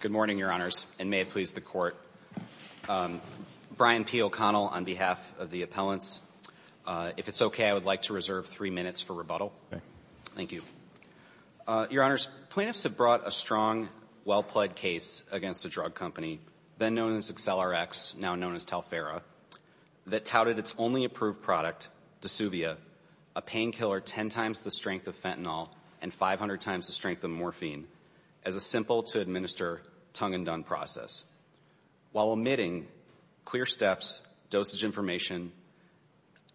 Good morning, Your Honors, and may it please the Court. Brian P. O'Connell on behalf of the appellants. If it's okay, I would like to reserve three minutes for rebuttal. Thank you. Your Honors, plaintiffs have brought a strong, well-pled case against a drug company, then known as Acceler-X, now known as Talphera, that touted its only approved product, Dasuvia, a painkiller 10 times the strength of fentanyl and 500 times the strength of morphine, as a simple-to-administer, tongue-in-dung process, while omitting clear steps, dosage information,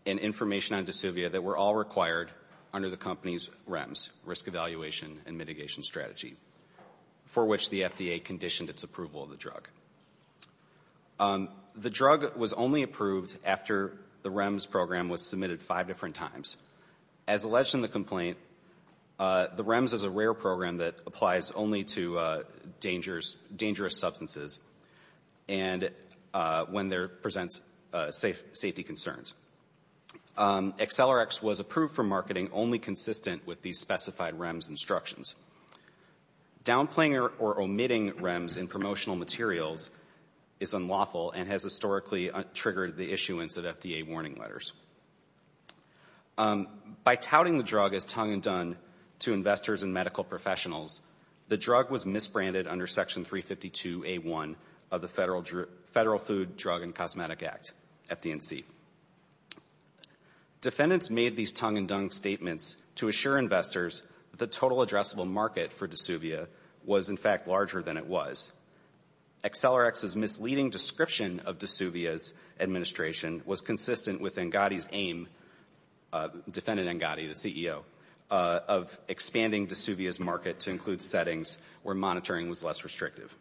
and information on Dasuvia that were all required under the company's REMS, Risk Evaluation and Mitigation Strategy, for which the FDA conditioned its approval of the drug. The drug was only approved after the REMS program was submitted five different times. As alleged in the complaint, the REMS is a rare program that applies only to dangerous substances and when there presents safety concerns. Acceler-X was approved for marketing only consistent with these specified REMS instructions. Downplaying or omitting REMS in promotional materials is unlawful and has historically triggered the issuance of FDA warning letters. By touting the drug as tongue-in-dung to investors and medical professionals, the drug was misbranded under Section 352A1 of the Federal Food, Drug, and Cosmetic Act, FD&C. Defendants made these tongue-in-dung statements to assure investors that the total addressable market for Dasuvia was, in fact, larger than it was. Acceler-X's misleading description of Dasuvia's administration was consistent with Engadi's aim, Defendant Engadi, the CEO, of expanding Dasuvia's market to include settings where monitoring was less restrictive.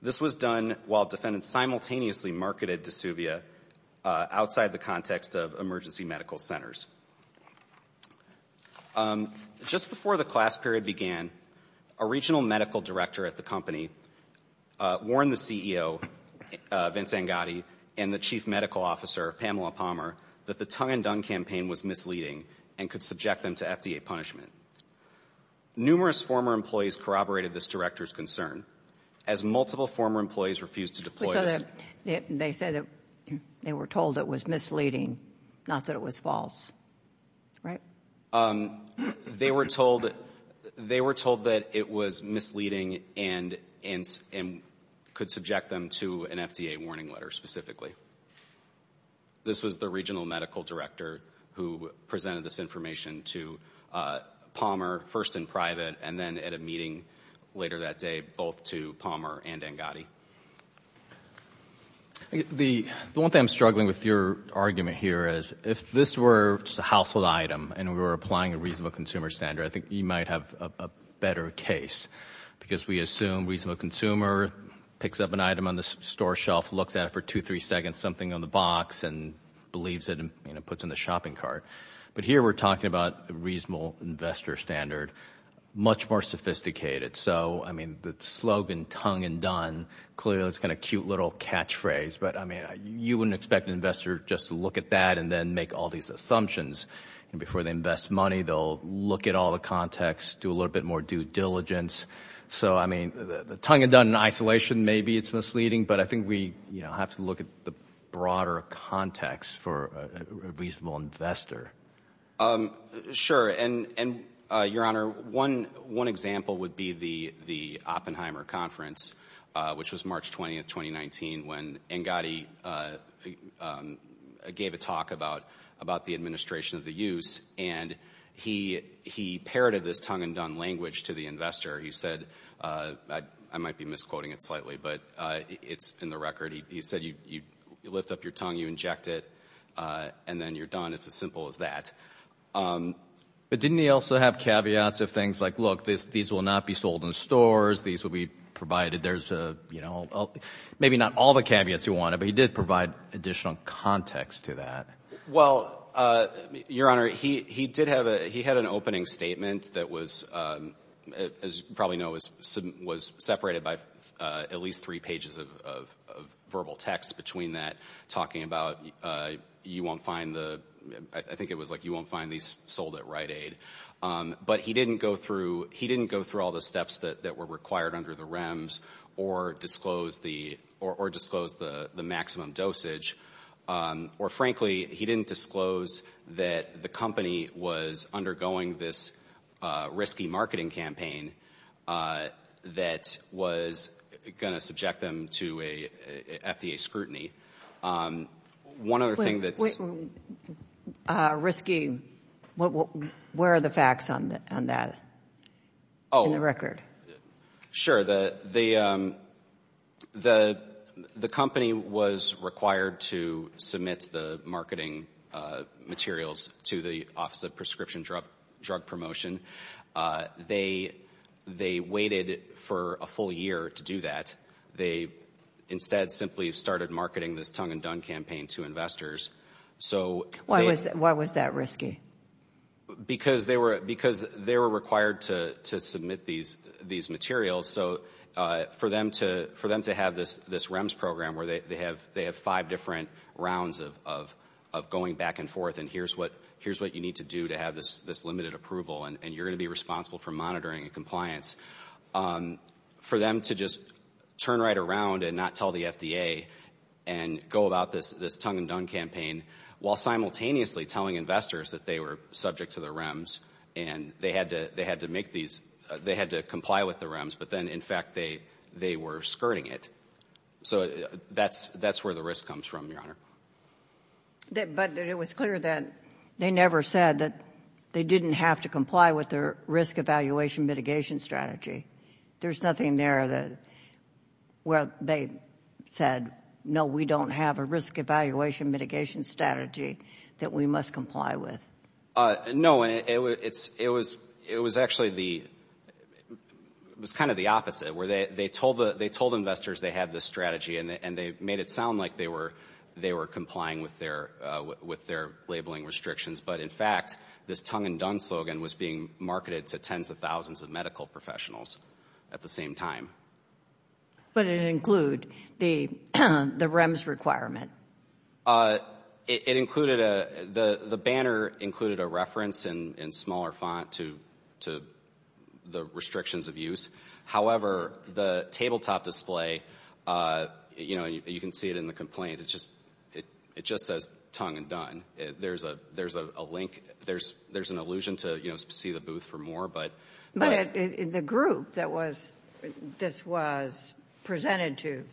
This was done while defendants simultaneously marketed Dasuvia outside the context of emergency medical centers. Just before the class period began, a regional medical director at the company warned the CEO, Vince Engadi, and the chief medical officer, Pamela Palmer, that the tongue-in-dung campaign was misleading and could subject them to FDA punishment. Numerous former employees corroborated this director's concern, as multiple former employees refused to deploy. They said they were told it was misleading, not that it was false, right? Um, they were told that it was misleading and could subject them to an FDA warning letter, specifically. This was the regional medical director who presented this information to Palmer, first in private, and then at a meeting later that day, both to Palmer and Engadi. The one thing I'm struggling with your argument here is, if this were just a household item, and we were applying a reasonable consumer standard, I think you might have a better case. Because we assume reasonable consumer picks up an item on the store shelf, looks at it for two, three seconds, something on the box, and believes it and, you know, puts in the shopping cart. But here we're talking about a reasonable investor standard, much more sophisticated. So, I mean, the slogan, tongue-in-dung, clearly that's kind of a cute little catchphrase. But, I mean, you wouldn't expect an investor just to look at that and then make all these assumptions. And before they invest money, they'll look at all the context, do a little bit more due diligence. So, I mean, the tongue-in-dung isolation, maybe it's misleading, but I think we, you know, have to look at the broader context for a reasonable investor. Sure. And, Your Honor, one example would be the Oppenheimer Conference, which was March 20th, 2019, when Engadi gave a talk about the administration of the use, and he parroted this tongue-in-dung language to the investor. He said, I might be misquoting it slightly, but it's in the record. He said, you lift up your tongue, you inject it, and then you're done. It's as simple as that. But didn't he also have caveats of things like, these will not be sold in stores, these will be provided, there's a, you know, maybe not all the caveats he wanted, but he did provide additional context to that. Well, Your Honor, he did have a, he had an opening statement that was, as you probably know, was separated by at least three pages of verbal text between that, talking about, you won't find the, I think it was like, you won't find these sold at Rite Aid. But he didn't go through all the steps that were required under the REMS, or disclose the maximum dosage, or frankly, he didn't disclose that the company was undergoing this risky marketing campaign that was going to subject them to a FDA scrutiny. One other thing that's... Risky. Where are the facts on that? In the record. Sure. The company was required to submit the marketing materials to the Office of Prescription Drug Promotion. They waited for a full year to do that. They instead simply started marketing this tongue and dung campaign to investors. So... Why was that risky? Because they were required to submit these materials. So, for them to have this REMS program where they have five different rounds of going back and forth, and here's what you need to do to have this limited approval, and you're going to be responsible for monitoring and compliance. Um, for them to just turn right around and not tell the FDA and go about this, this tongue and dung campaign, while simultaneously telling investors that they were subject to the REMS, and they had to, they had to make these, they had to comply with the REMS, but then, in fact, they, they were skirting it. So, that's, that's where the risk comes from, Your Honor. But it was clear that they never said that they didn't have to comply with their risk evaluation mitigation strategy. There's nothing there that, where they said, no, we don't have a risk evaluation mitigation strategy that we must comply with. No, and it's, it was, it was actually the, it was kind of the opposite, where they, they told the, they told investors they had this strategy, and they made it sound like they were, they were complying with their, with their labeling restrictions. But, in fact, this tongue and dung slogan was being marketed to tens of thousands of medical professionals at the same time. But it include the, the REMS requirement? Uh, it included a, the, the banner included a reference in, in smaller font to, to the restrictions of use. However, the tabletop display, uh, you know, you can see it in the there's, there's an illusion to, you know, see the booth for more, but. But it, the group that was, this was presented to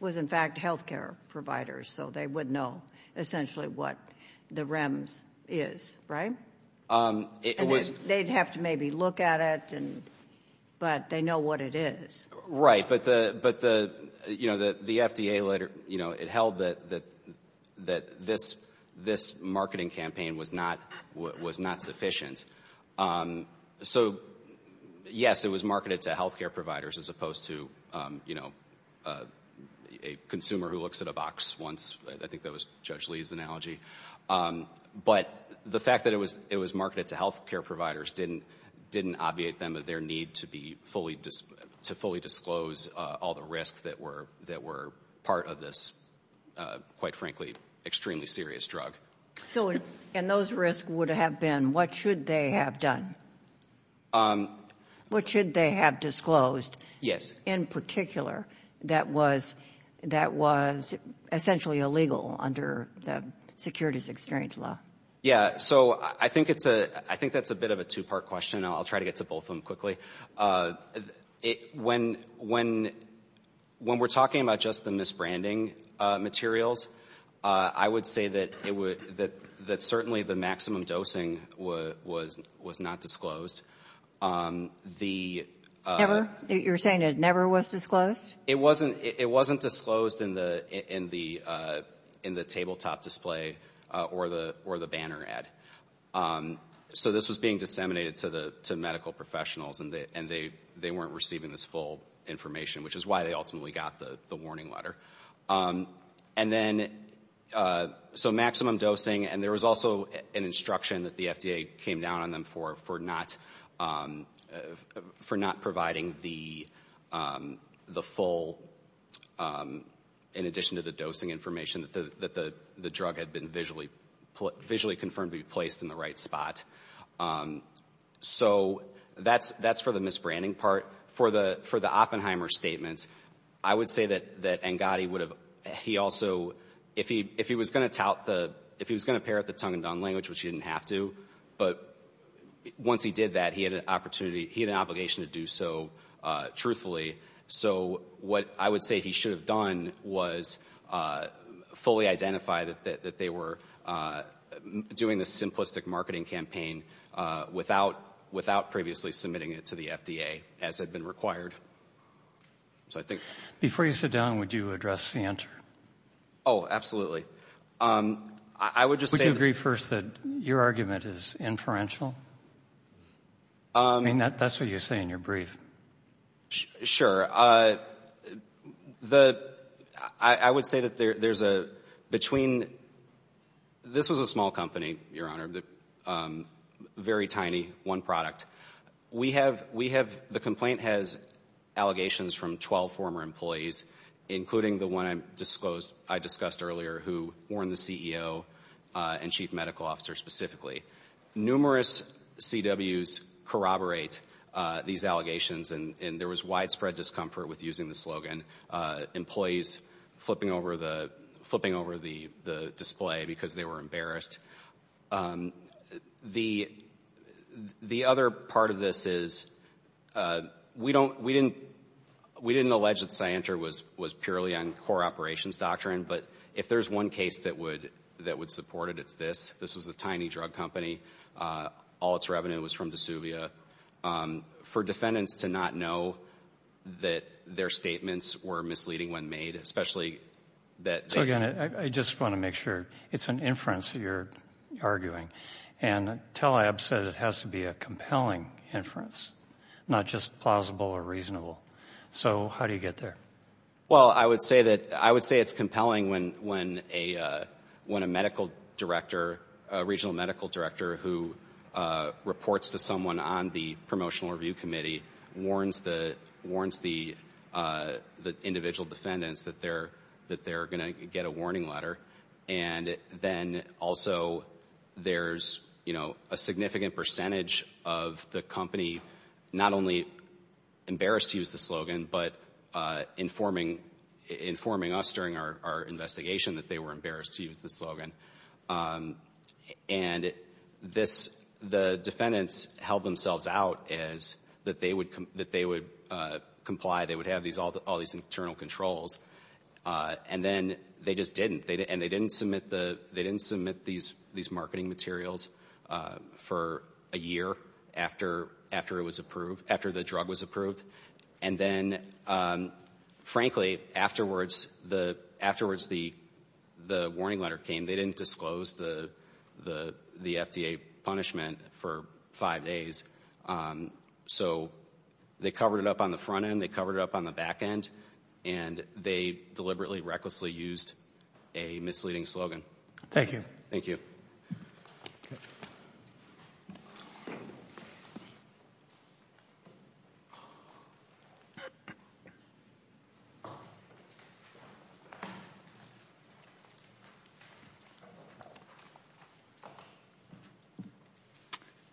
was, in fact, healthcare providers. So, they would know essentially what the REMS is, right? Um, it was. They'd have to maybe look at it, and, but they know what it is. Right, but the, but the, you know, the, the FDA letter, you know, it held that, that, that this, this marketing campaign was not, was not sufficient. So, yes, it was marketed to healthcare providers as opposed to, you know, a consumer who looks at a box once. I think that was Judge Lee's analogy. But the fact that it was, it was marketed to healthcare providers didn't, didn't obviate them of their need to be fully, to fully disclose all the risks that were, that were part of this, quite frankly, extremely serious drug. So, and those risks would have been, what should they have done? Um. What should they have disclosed? Yes. In particular, that was, that was essentially illegal under the securities exchange law. Yeah. So, I think it's a, I think that's a bit of a two-part question. I'll try to get to both of them quickly. When, when, when we're talking about just the misbranding materials, I would say that it would, that, that certainly the maximum dosing was, was, was not disclosed. The. Never? You're saying it never was disclosed? It wasn't, it wasn't disclosed in the, in the, in the tabletop display or the, or the banner ad. Um. So, this was being disseminated to the, to medical professionals and they, and they, they weren't receiving this full information, which is why they ultimately got the, the warning letter. Um. And then, uh, so maximum dosing, and there was also an instruction that the FDA came down on them for, for not, um, for not providing the, um, the full, um, in addition to the dosing information that the, that the, the drug had been visually, visually confirmed to be placed in the right spot. Um. So, that's, that's for the misbranding part. For the, for the Oppenheimer statements, I would say that, that Angadi would have, he also, if he, if he was going to tout the, if he was going to parrot the tongue-in-tongue language, which he didn't have to, but once he did that, he had an opportunity, he had an obligation to do so, uh, truthfully. So, what I would say he should have done was, uh, fully identify that, that, that they were, uh, doing this simplistic marketing campaign, uh, without, without previously submitting it to the FDA, as had been required. So, I think. Before you sit down, would you address the answer? Oh, absolutely. Um, I, I would just say. Would you agree first that your argument is inferential? Um. I mean, that, that's what you say in your brief. Sure. Uh, the, I, I would say that there, there's a, between, this was a small company, Your Honor, the, um, very tiny, one product. We have, we have, the complaint has allegations from 12 former employees, including the one I disclosed, I discussed earlier, who warned the CEO, uh, and Chief Medical Officer specifically. Numerous CWs corroborate, uh, these allegations, and, and there was widespread discomfort with using the slogan, uh, employees flipping over the, flipping over the, the display because they were embarrassed. Um, the, the other part of this is, uh, we don't, we didn't, we didn't allege that Scientra was, was purely on core operations doctrine, but if there's one case that would, that would support it, it's this. This was a tiny drug company. Uh, all its revenue was from DeSuvia. Um, for defendants to not know that their statements were misleading when made, especially that they... So again, I, I just want to make sure. It's an inference that you're arguing, and Tell-Ab said it has to be a compelling inference, not just plausible or reasonable. So how do you get there? Well, I would say that, I would say it's compelling when, when a, uh, when a medical director, a regional medical director who, uh, reports to someone on the Promotional Review Committee warns the, warns the, uh, the individual defendants that they're, that they're going to get a warning letter. And then also there's, you know, a significant percentage of the company not only embarrassed to use the slogan, but, uh, informing, informing us during our, our investigation that they were embarrassed to use the slogan. Um, and this, the defendants held themselves out as that they would, that they would, uh, comply. They would have these, all, all these internal controls. Uh, and then they just didn't. They, and they didn't submit the, they didn't submit these, these marketing materials, uh, for a year after, after it was approved, after the drug was approved. And then, um, frankly, afterwards, the, afterwards the, the warning letter came. They didn't disclose the, the, the FDA punishment for five days. Um, so they covered it up on the front end. They covered it up on the back end and they deliberately recklessly used a misleading slogan. Thank you. Thank you.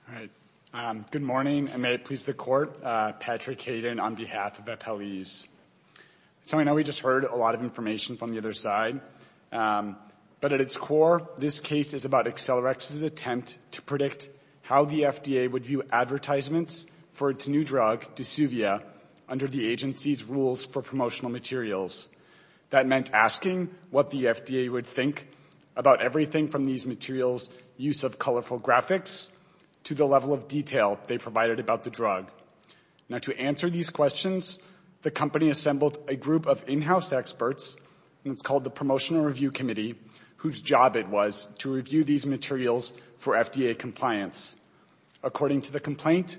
All right. Um, good morning and may it please the court. Uh, Patrick Hayden on behalf of Appellees. So I know we just heard a lot of information from the other side, um, but at its core, this case is about Accelerex's attempt to predict how the FDA would view advertisements for its new drug, Dysuvia, under the agency's rules for promotional materials. That meant asking what the FDA would think about everything from these materials, use of colorful graphics, to the level of detail they provided about the drug. Now to answer these questions, the company assembled a group of in-house experts, and it's called the Promotional Review Committee, whose job it was to review these materials for FDA compliance. According to the complaint,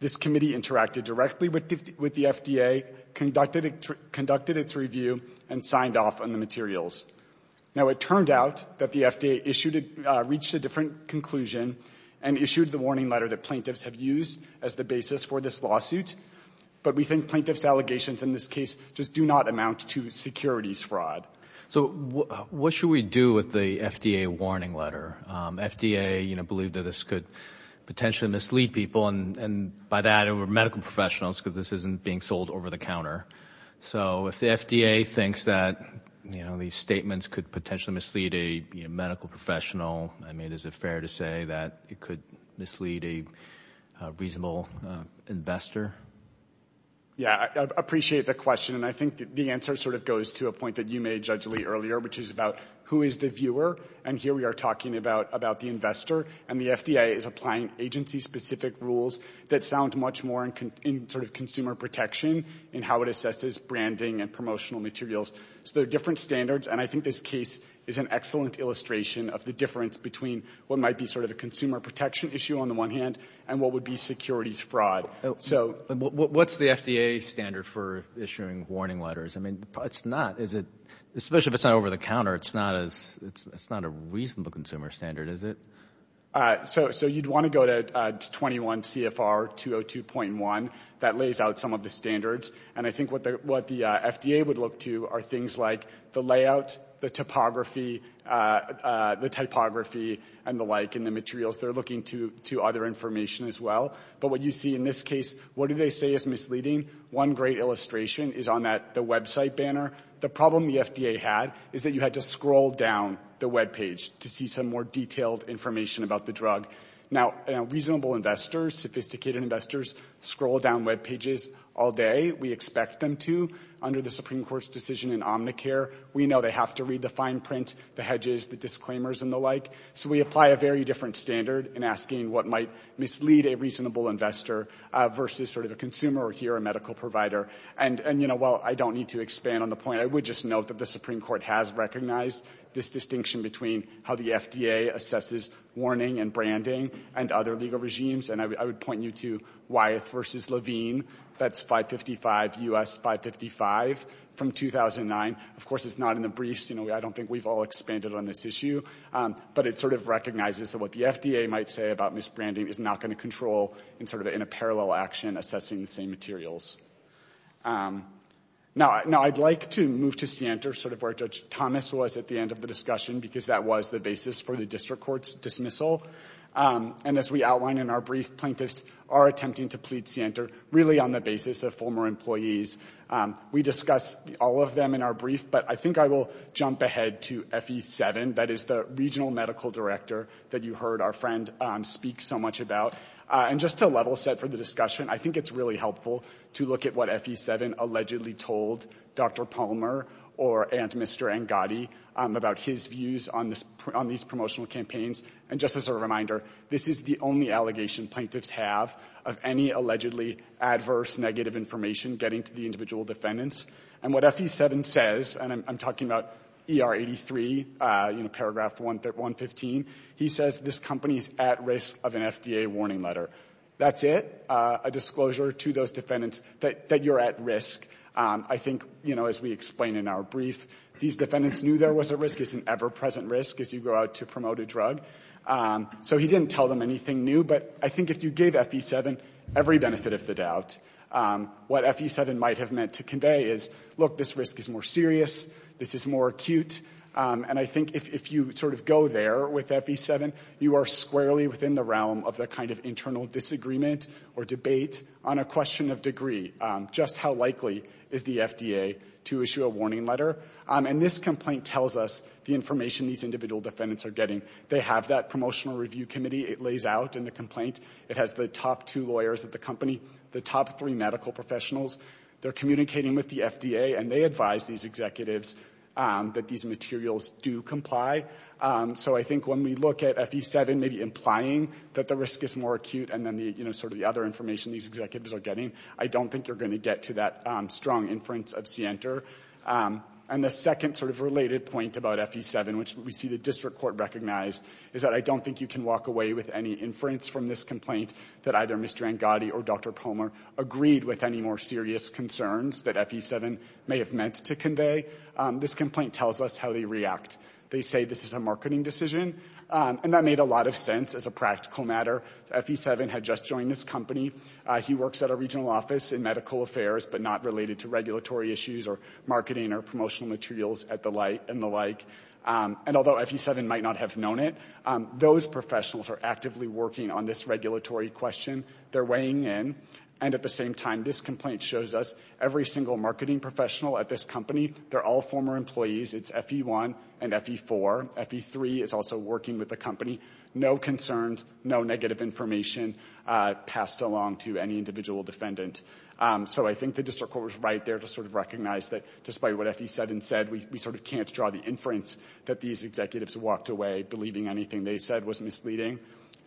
this committee interacted directly with the, with the FDA, conducted, conducted its review and signed off on the materials. Now it turned out that the FDA issued, uh, reached a different conclusion and issued the warning letter that plaintiffs have used as the basis for this lawsuit. But we think plaintiff's allegations in this case just do not amount to securities fraud. So what should we do with the FDA warning letter? FDA, you know, believed that this could potentially mislead people and, and by that, over medical professionals, because this isn't being sold over the counter. So if the FDA thinks that, you know, these statements could potentially mislead a medical professional, I mean, is it fair to say that it could mislead a reasonable investor? Yeah, I appreciate the question. And I think the answer sort of goes to a point that you made, Judge Lee, earlier, which is about who is the viewer. And here we are talking about, about the investor. And the FDA is applying agency-specific rules that sound much more in, in sort of consumer protection in how it assesses branding and promotional materials. So there are different standards. And I think this case is an excellent illustration of the difference between what might be sort of a consumer protection issue on the one hand, and what would be securities fraud. So what's the FDA standard for issuing warning letters? I mean, it's not, is it, especially if it's not over the counter, it's not as, it's, it's not a reasonable consumer standard, is it? So, so you'd want to go to 21 CFR 202.1. That lays out some of the standards. And I think what the, what the FDA would look to are things like the layout, the topography, the typography, and the like, and the materials. They're looking to, to other information as well. But what you see in this case, what do they say is misleading? One great illustration is on that, the website banner. The problem the FDA had is that you had to scroll down the webpage to see some more detailed information about the drug. Now, reasonable investors, sophisticated investors, scroll down webpages all day. We expect them to. Under the Supreme Court's decision in Omnicare, we know they have to read the fine print, the hedges, the disclaimers, and the like. So we apply a very different standard in asking what might mislead a reasonable investor versus sort of a consumer or, here, a medical provider. And, and, you know, while I don't need to expand on the point, I would just note that the Supreme Court has recognized this distinction between how the FDA assesses warning and branding and other legal regimes. And I would point you to Wyeth versus Levine. That's 555 U.S. 555 from 2009. Of course, it's not in the briefs. You know, I don't think we've all expanded on this issue. But it sort of recognizes that what the FDA might say about misbranding is not going to control in sort of in a parallel action assessing the same materials. Now, now, I'd like to move to Sienter, sort of where Judge Thomas was at the end of the discussion, because that was the basis for the district court's dismissal. And as we outlined in our brief, plaintiffs are attempting to plead Sienter really on the basis of former employees. We discussed all of them in our brief, but I think I will jump ahead to FE7. That is the regional medical director that you heard our friend speak so much about. And just to level set for the discussion, I think it's really helpful to look at what FE7 allegedly told Dr. Palmer or Aunt Mr. Angadi about his views on these promotional campaigns. And just as a reminder, this is the only allegation plaintiffs have of any allegedly adverse negative information getting to the individual defendants. And what FE7 says, and I'm talking about ER83, you know, paragraph 115, he says this company is at risk of an FDA warning letter. That's it, a disclosure to those defendants that you're at risk. I think, you know, as we explained in our brief, these defendants knew there was a risk. It's an ever-present risk as you go out to promote a drug. So he didn't tell them anything new. But I think if you gave FE7 every benefit of the doubt, what FE7 might have meant to convey is, look, this risk is more serious. This is more acute. And I think if you sort of go there with FE7, you are squarely within the realm of the kind of internal disagreement or debate on a question of degree. Just how likely is the FDA to issue a warning letter? And this complaint tells us the information these individual defendants are getting. They have that promotional review committee. It lays out in the complaint. It has the top two lawyers at the company, the top three medical professionals. They're communicating with the FDA. And they advise these executives that these materials do comply. So I think when we look at FE7 maybe implying that the risk is more acute and then, you know, sort of the other information these executives are getting, I don't think you're going to get to that strong inference of Sienter. And the second sort of related point about FE7, which we see the district court recognize, is that I don't think you can walk away with any inference from this complaint that either or Dr. Pomer agreed with any more serious concerns that FE7 may have meant to convey. This complaint tells us how they react. They say this is a marketing decision. And that made a lot of sense as a practical matter. FE7 had just joined this company. He works at a regional office in medical affairs, but not related to regulatory issues or marketing or promotional materials and the like. And although FE7 might not have known it, those professionals are actively working on this regulatory question. They're weighing in. And at the same time, this complaint shows us every single marketing professional at this company, they're all former employees. It's FE1 and FE4. FE3 is also working with the company. No concerns, no negative information passed along to any individual defendant. So I think the district court was right there to sort of recognize that despite what FE7 said, we sort of can't draw the inference that these executives walked away believing anything they said was misleading.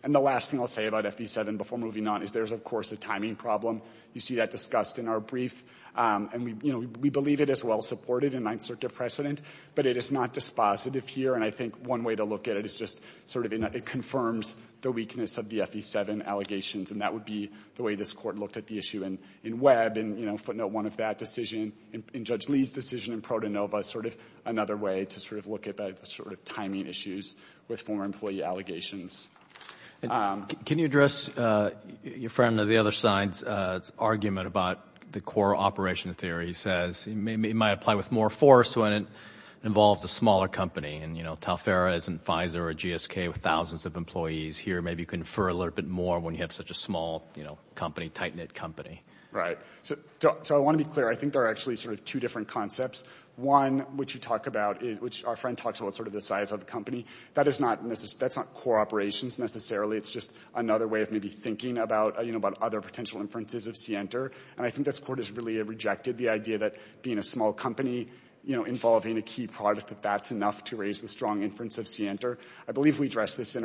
And the last thing I'll say about FE7 before moving on is there's, of course, a timing problem. You see that discussed in our brief. And we believe it is well-supported in Ninth Circuit precedent. But it is not dispositive here. And I think one way to look at it is just sort of it confirms the weakness of the FE7 allegations. And that would be the way this court looked at the issue in Webb. And footnote one of that decision in Judge Lee's decision in Protonova is sort of another way to sort of look at that sort of timing issues with former employee allegations. And can you address your friend on the other side's argument about the core operation theory? He says it might apply with more force when it involves a smaller company. And Telfair isn't Pfizer or GSK with thousands of employees here. Maybe you can infer a little bit more when you have such a small company, tight-knit company. Right. So I want to be clear. I think there are actually sort of two different concepts. One, which you talk about, which our friend talks about sort of the size of the company, that is not core operations. It's just another way of maybe thinking about other potential inferences of Sienter. And I think this court has really rejected the idea that being a small company involving a key product, that that's enough to raise the strong inference of Sienter. I believe we addressed this in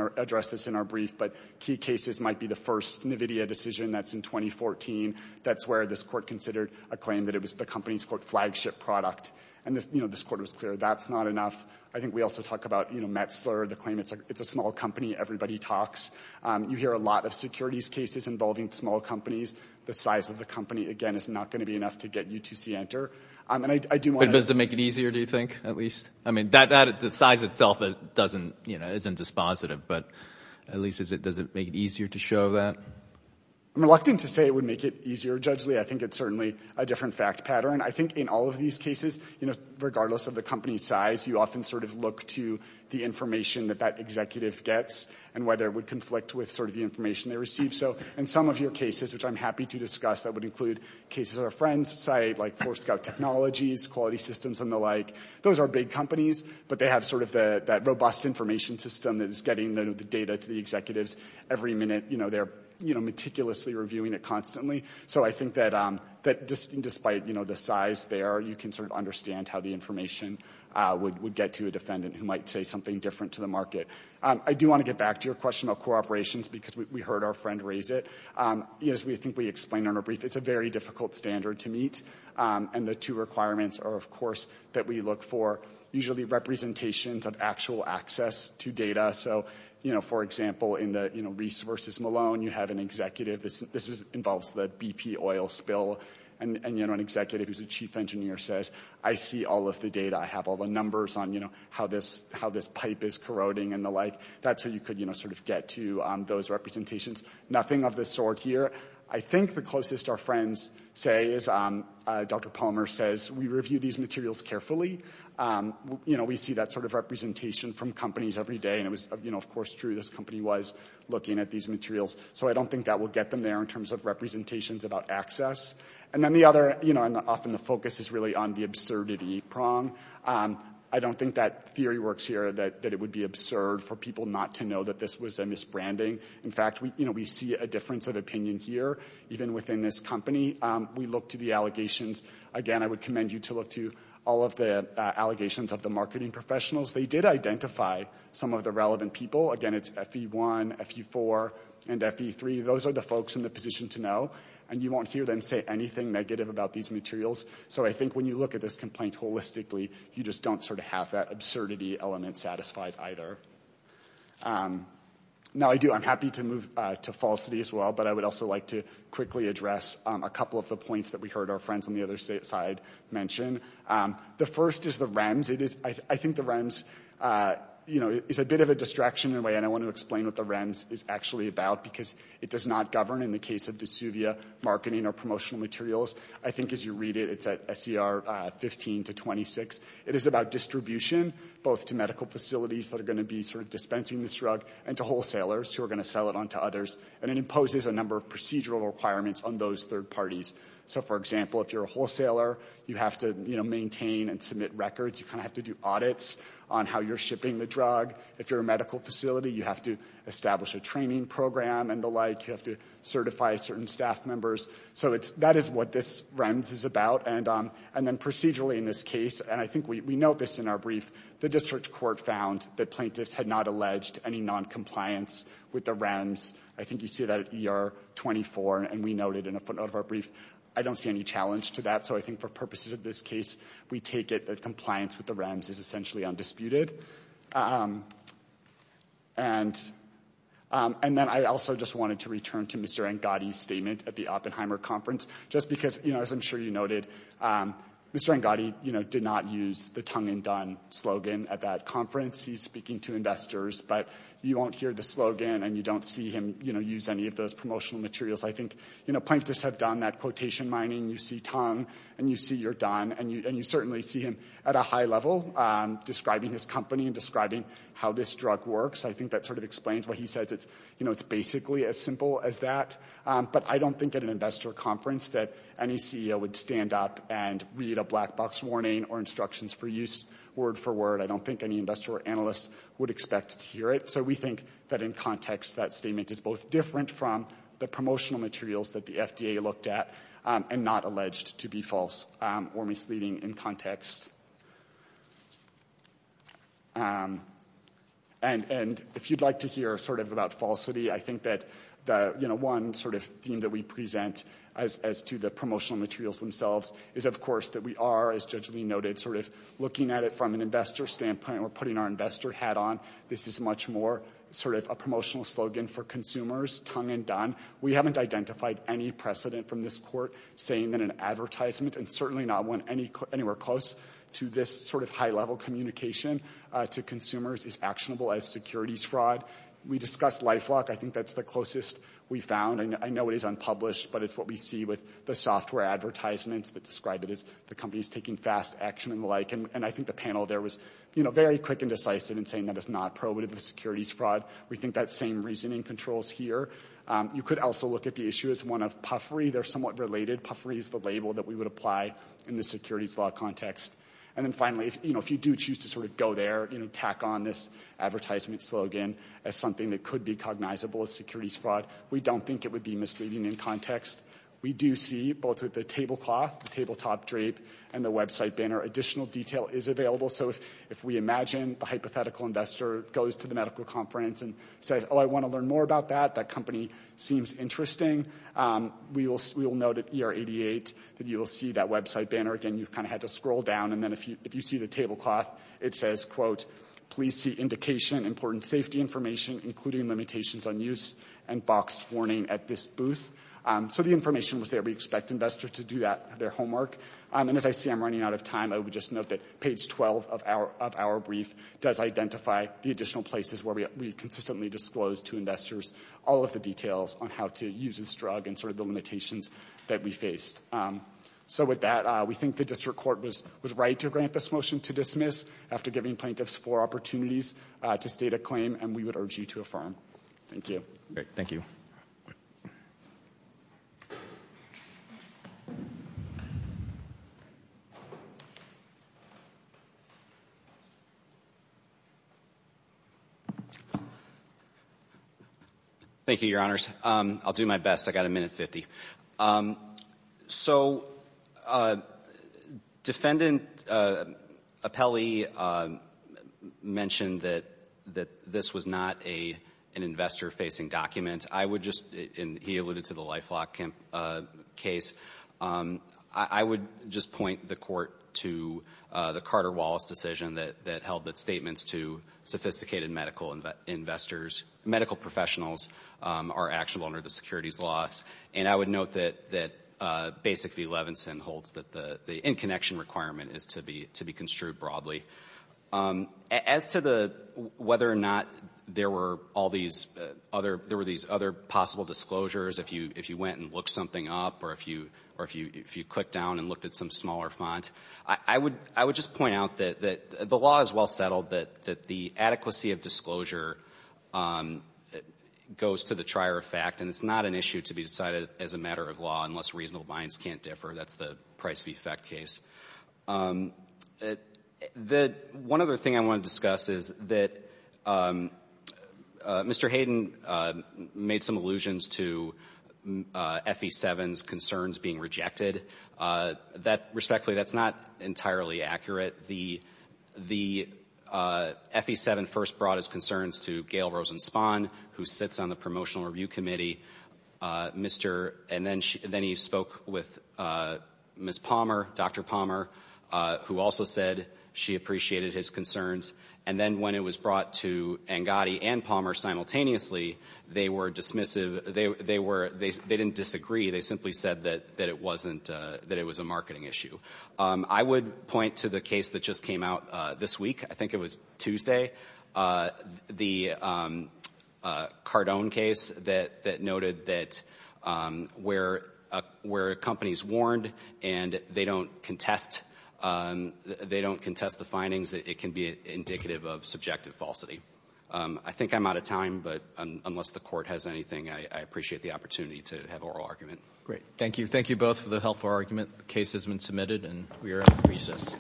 our brief, but key cases might be the first NVIDIA decision that's in 2014. That's where this court considered a claim that it was the company's flagship product. And this court was clear. That's not enough. I think we also talk about Metzler, the claim it's a small company. Everybody talks. You hear a lot of securities cases involving small companies. The size of the company, again, is not going to be enough to get you to Sienter. And I do want to— Does it make it easier, do you think, at least? I mean, the size itself isn't dispositive. But at least, does it make it easier to show that? I'm reluctant to say it would make it easier, judgely. I think it's certainly a different fact pattern. I think in all of these cases, regardless of the company size, you often sort of look to the information that that executive gets and whether it would conflict with sort of the information they receive. So in some of your cases, which I'm happy to discuss, that would include cases at our friends' site, like Forescout Technologies, Quality Systems, and the like. Those are big companies, but they have sort of that robust information system that is getting the data to the executives every minute. You know, they're meticulously reviewing it constantly. So I think that despite the size there, you can sort of understand how the information would get to a defendant who might say something different to the market. I do want to get back to your question about co-operations, because we heard our friend raise it. As I think we explained in a brief, it's a very difficult standard to meet. And the two requirements are, of course, that we look for usually representations of actual access to data. So, you know, for example, in the Reese versus Malone, you have an executive—this involves the BP oil spill—and, you know, an executive who's a chief engineer says, I see all of the data. I have all the numbers on, you know, how this pipe is corroding and the like. That's how you could, you know, sort of get to those representations. Nothing of the sort here. I think the closest our friends say is, Dr. Palmer says, we review these materials carefully. You know, we see that sort of representation from companies every day. And it was, you know, of course, true. This company was looking at these materials. So I don't think that will get them there in terms of representations about access. And then the other, you know, and often the focus is really on the absurdity prong. I don't think that theory works here, that it would be absurd for people not to know that this was a misbranding. In fact, you know, we see a difference of opinion here, even within this company. We look to the allegations. Again, I would commend you to look to all of the allegations of the marketing professionals. They did identify some of the relevant people. Again, it's FE1, FE4, and FE3. Those are the folks in the position to know. And you won't hear them say anything negative about these materials. So I think when you look at this complaint holistically, you just don't sort of have that absurdity element satisfied either. Now, I do. I'm happy to move to falsity as well. But I would also like to quickly address a couple of the points that we heard our friends on the other side mention. The first is the REMS. It is, I think the REMS, you know, is a bit of a distraction in a way. And I want to explain what the REMS is actually about. Because it does not govern, in the case of DeSuvia, marketing or promotional materials. I think as you read it, it's at SCR 15 to 26. It is about distribution, both to medical facilities that are going to be sort of dispensing this drug, and to wholesalers who are going to sell it on to others. And it imposes a number of procedural requirements on those third parties. So for example, if you're a wholesaler, you have to, you know, maintain and submit records. You kind of have to do audits on how you're shipping the drug. If you're a medical facility, you have to establish a training program and the like. You have to certify certain staff members. So that is what this REMS is about. And then procedurally in this case, and I think we note this in our brief, the district court found that plaintiffs had not alleged any noncompliance with the REMS. I think you see that at ER 24, and we noted in a footnote of our brief. I don't see any challenge to that. So I think for purposes of this case, we take it that compliance with the REMS is essentially undisputed. And then I also just wanted to return to Mr. Angadi's statement at the Oppenheimer Conference. Just because, you know, as I'm sure you noted, Mr. Angadi, you know, did not use the tongue and done slogan at that conference. He's speaking to investors, but you won't hear the slogan, and you don't see him, you know, use any of those promotional materials. I think, you know, plaintiffs have done that quotation mining. You see tongue, and you see you're done. And you certainly see him at a high level describing his company and describing how this drug works. I think that sort of explains what he says. It's, you know, it's basically as simple as that. But I don't think at an investor conference that any CEO would stand up and read a black box warning or instructions for use word for word. I don't think any investor or analyst would expect to hear it. So we think that in context, that statement is both different from the promotional materials that the FDA looked at and not alleged to be false or misleading in context. And if you'd like to hear sort of about falsity, I think that the, you know, one sort of theme that we present as to the promotional materials themselves is, of course, that we are, as Judge Lee noted, sort of looking at it from an investor standpoint. We're putting our investor hat on. This is much more sort of a promotional slogan for consumers, tongue and done. We haven't identified any precedent from this court saying that an advertisement, and certainly not one anywhere close to this sort of high level communication to consumers, is actionable as securities fraud. We discussed LifeLock. I think that's the closest we found. And I know it is unpublished, but it's what we see with the software advertisements that describe it as the company is taking fast action and the like. And I think the panel there was, you know, very quick and decisive in saying that it's not probative of securities fraud. We think that same reasoning controls here. You could also look at the issue as one of puffery. They're somewhat related. Puffery is the label that we would apply in the securities law context. And then finally, you know, if you do choose to sort of go there, you know, tack on this advertisement slogan as something that could be cognizable as securities fraud, we don't think it would be misleading in context. We do see, both with the tablecloth, the tabletop drape, and the website banner, additional detail is available. So if we imagine the hypothetical investor goes to the medical conference and says, oh, I want to learn more about that. That company seems interesting. We will note at ER 88 that you will see that website banner. Again, you've kind of had to scroll down. And then if you see the tablecloth, it says, quote, please see indication, important safety information, including limitations on use, and boxed warning at this booth. So the information was there. We expect investors to do that, their homework. And as I see I'm running out of time, I would just note that page 12 of our brief does identify the additional places where we consistently disclose to investors all of the details on how to use this drug and sort of the limitations that we faced. So with that, we think the district court was right to grant this motion to dismiss after giving plaintiffs four opportunities to state a claim, and we would urge you to Thank you. Thank you. Thank you, Your Honors. I'll do my best. I've got a minute and 50. So defendant Apelli mentioned that this was not an investor-facing document. I would just, and he alluded to the LifeLock case, I would just point the court to the Carter-Wallace decision that held that statements to sophisticated medical investors, medical professionals are actual under the securities laws. And I would note that basically Levinson holds that the in-connection requirement is to be construed broadly. As to whether or not there were all these other possible disclosures, if you went and looked something up or if you clicked down and looked at some smaller font, I would just point out that the law is well settled, that the adequacy of disclosure goes to the trier effect, and it's not an issue to be decided as a matter of law unless reasonable minds can't differ. That's the price-of-effect case. The one other thing I want to discuss is that Mr. Hayden made some allusions to FE7's concerns being rejected. That, respectfully, that's not entirely accurate. The FE7 first brought his concerns to Gail Rosenspahn, who sits on the promotional review committee, Mr. — and then he spoke with Ms. Palmer, Dr. Palmer, who also said she appreciated his concerns. And then when it was brought to Angotti and Palmer simultaneously, they were dismissive — they were — they didn't disagree. They simply said that it wasn't — that it was a marketing issue. I would point to the case that just came out this week. I think it was Tuesday. The Cardone case that noted that where a company is warned and they don't contest — they don't contest the findings, it can be indicative of subjective falsity. I think I'm out of time, but unless the Court has anything, I appreciate the opportunity to have oral argument. ROTHSTEIN, JR.: Great. Thank you. Thank you both for the helpful argument. The case has been submitted, and we are at recess.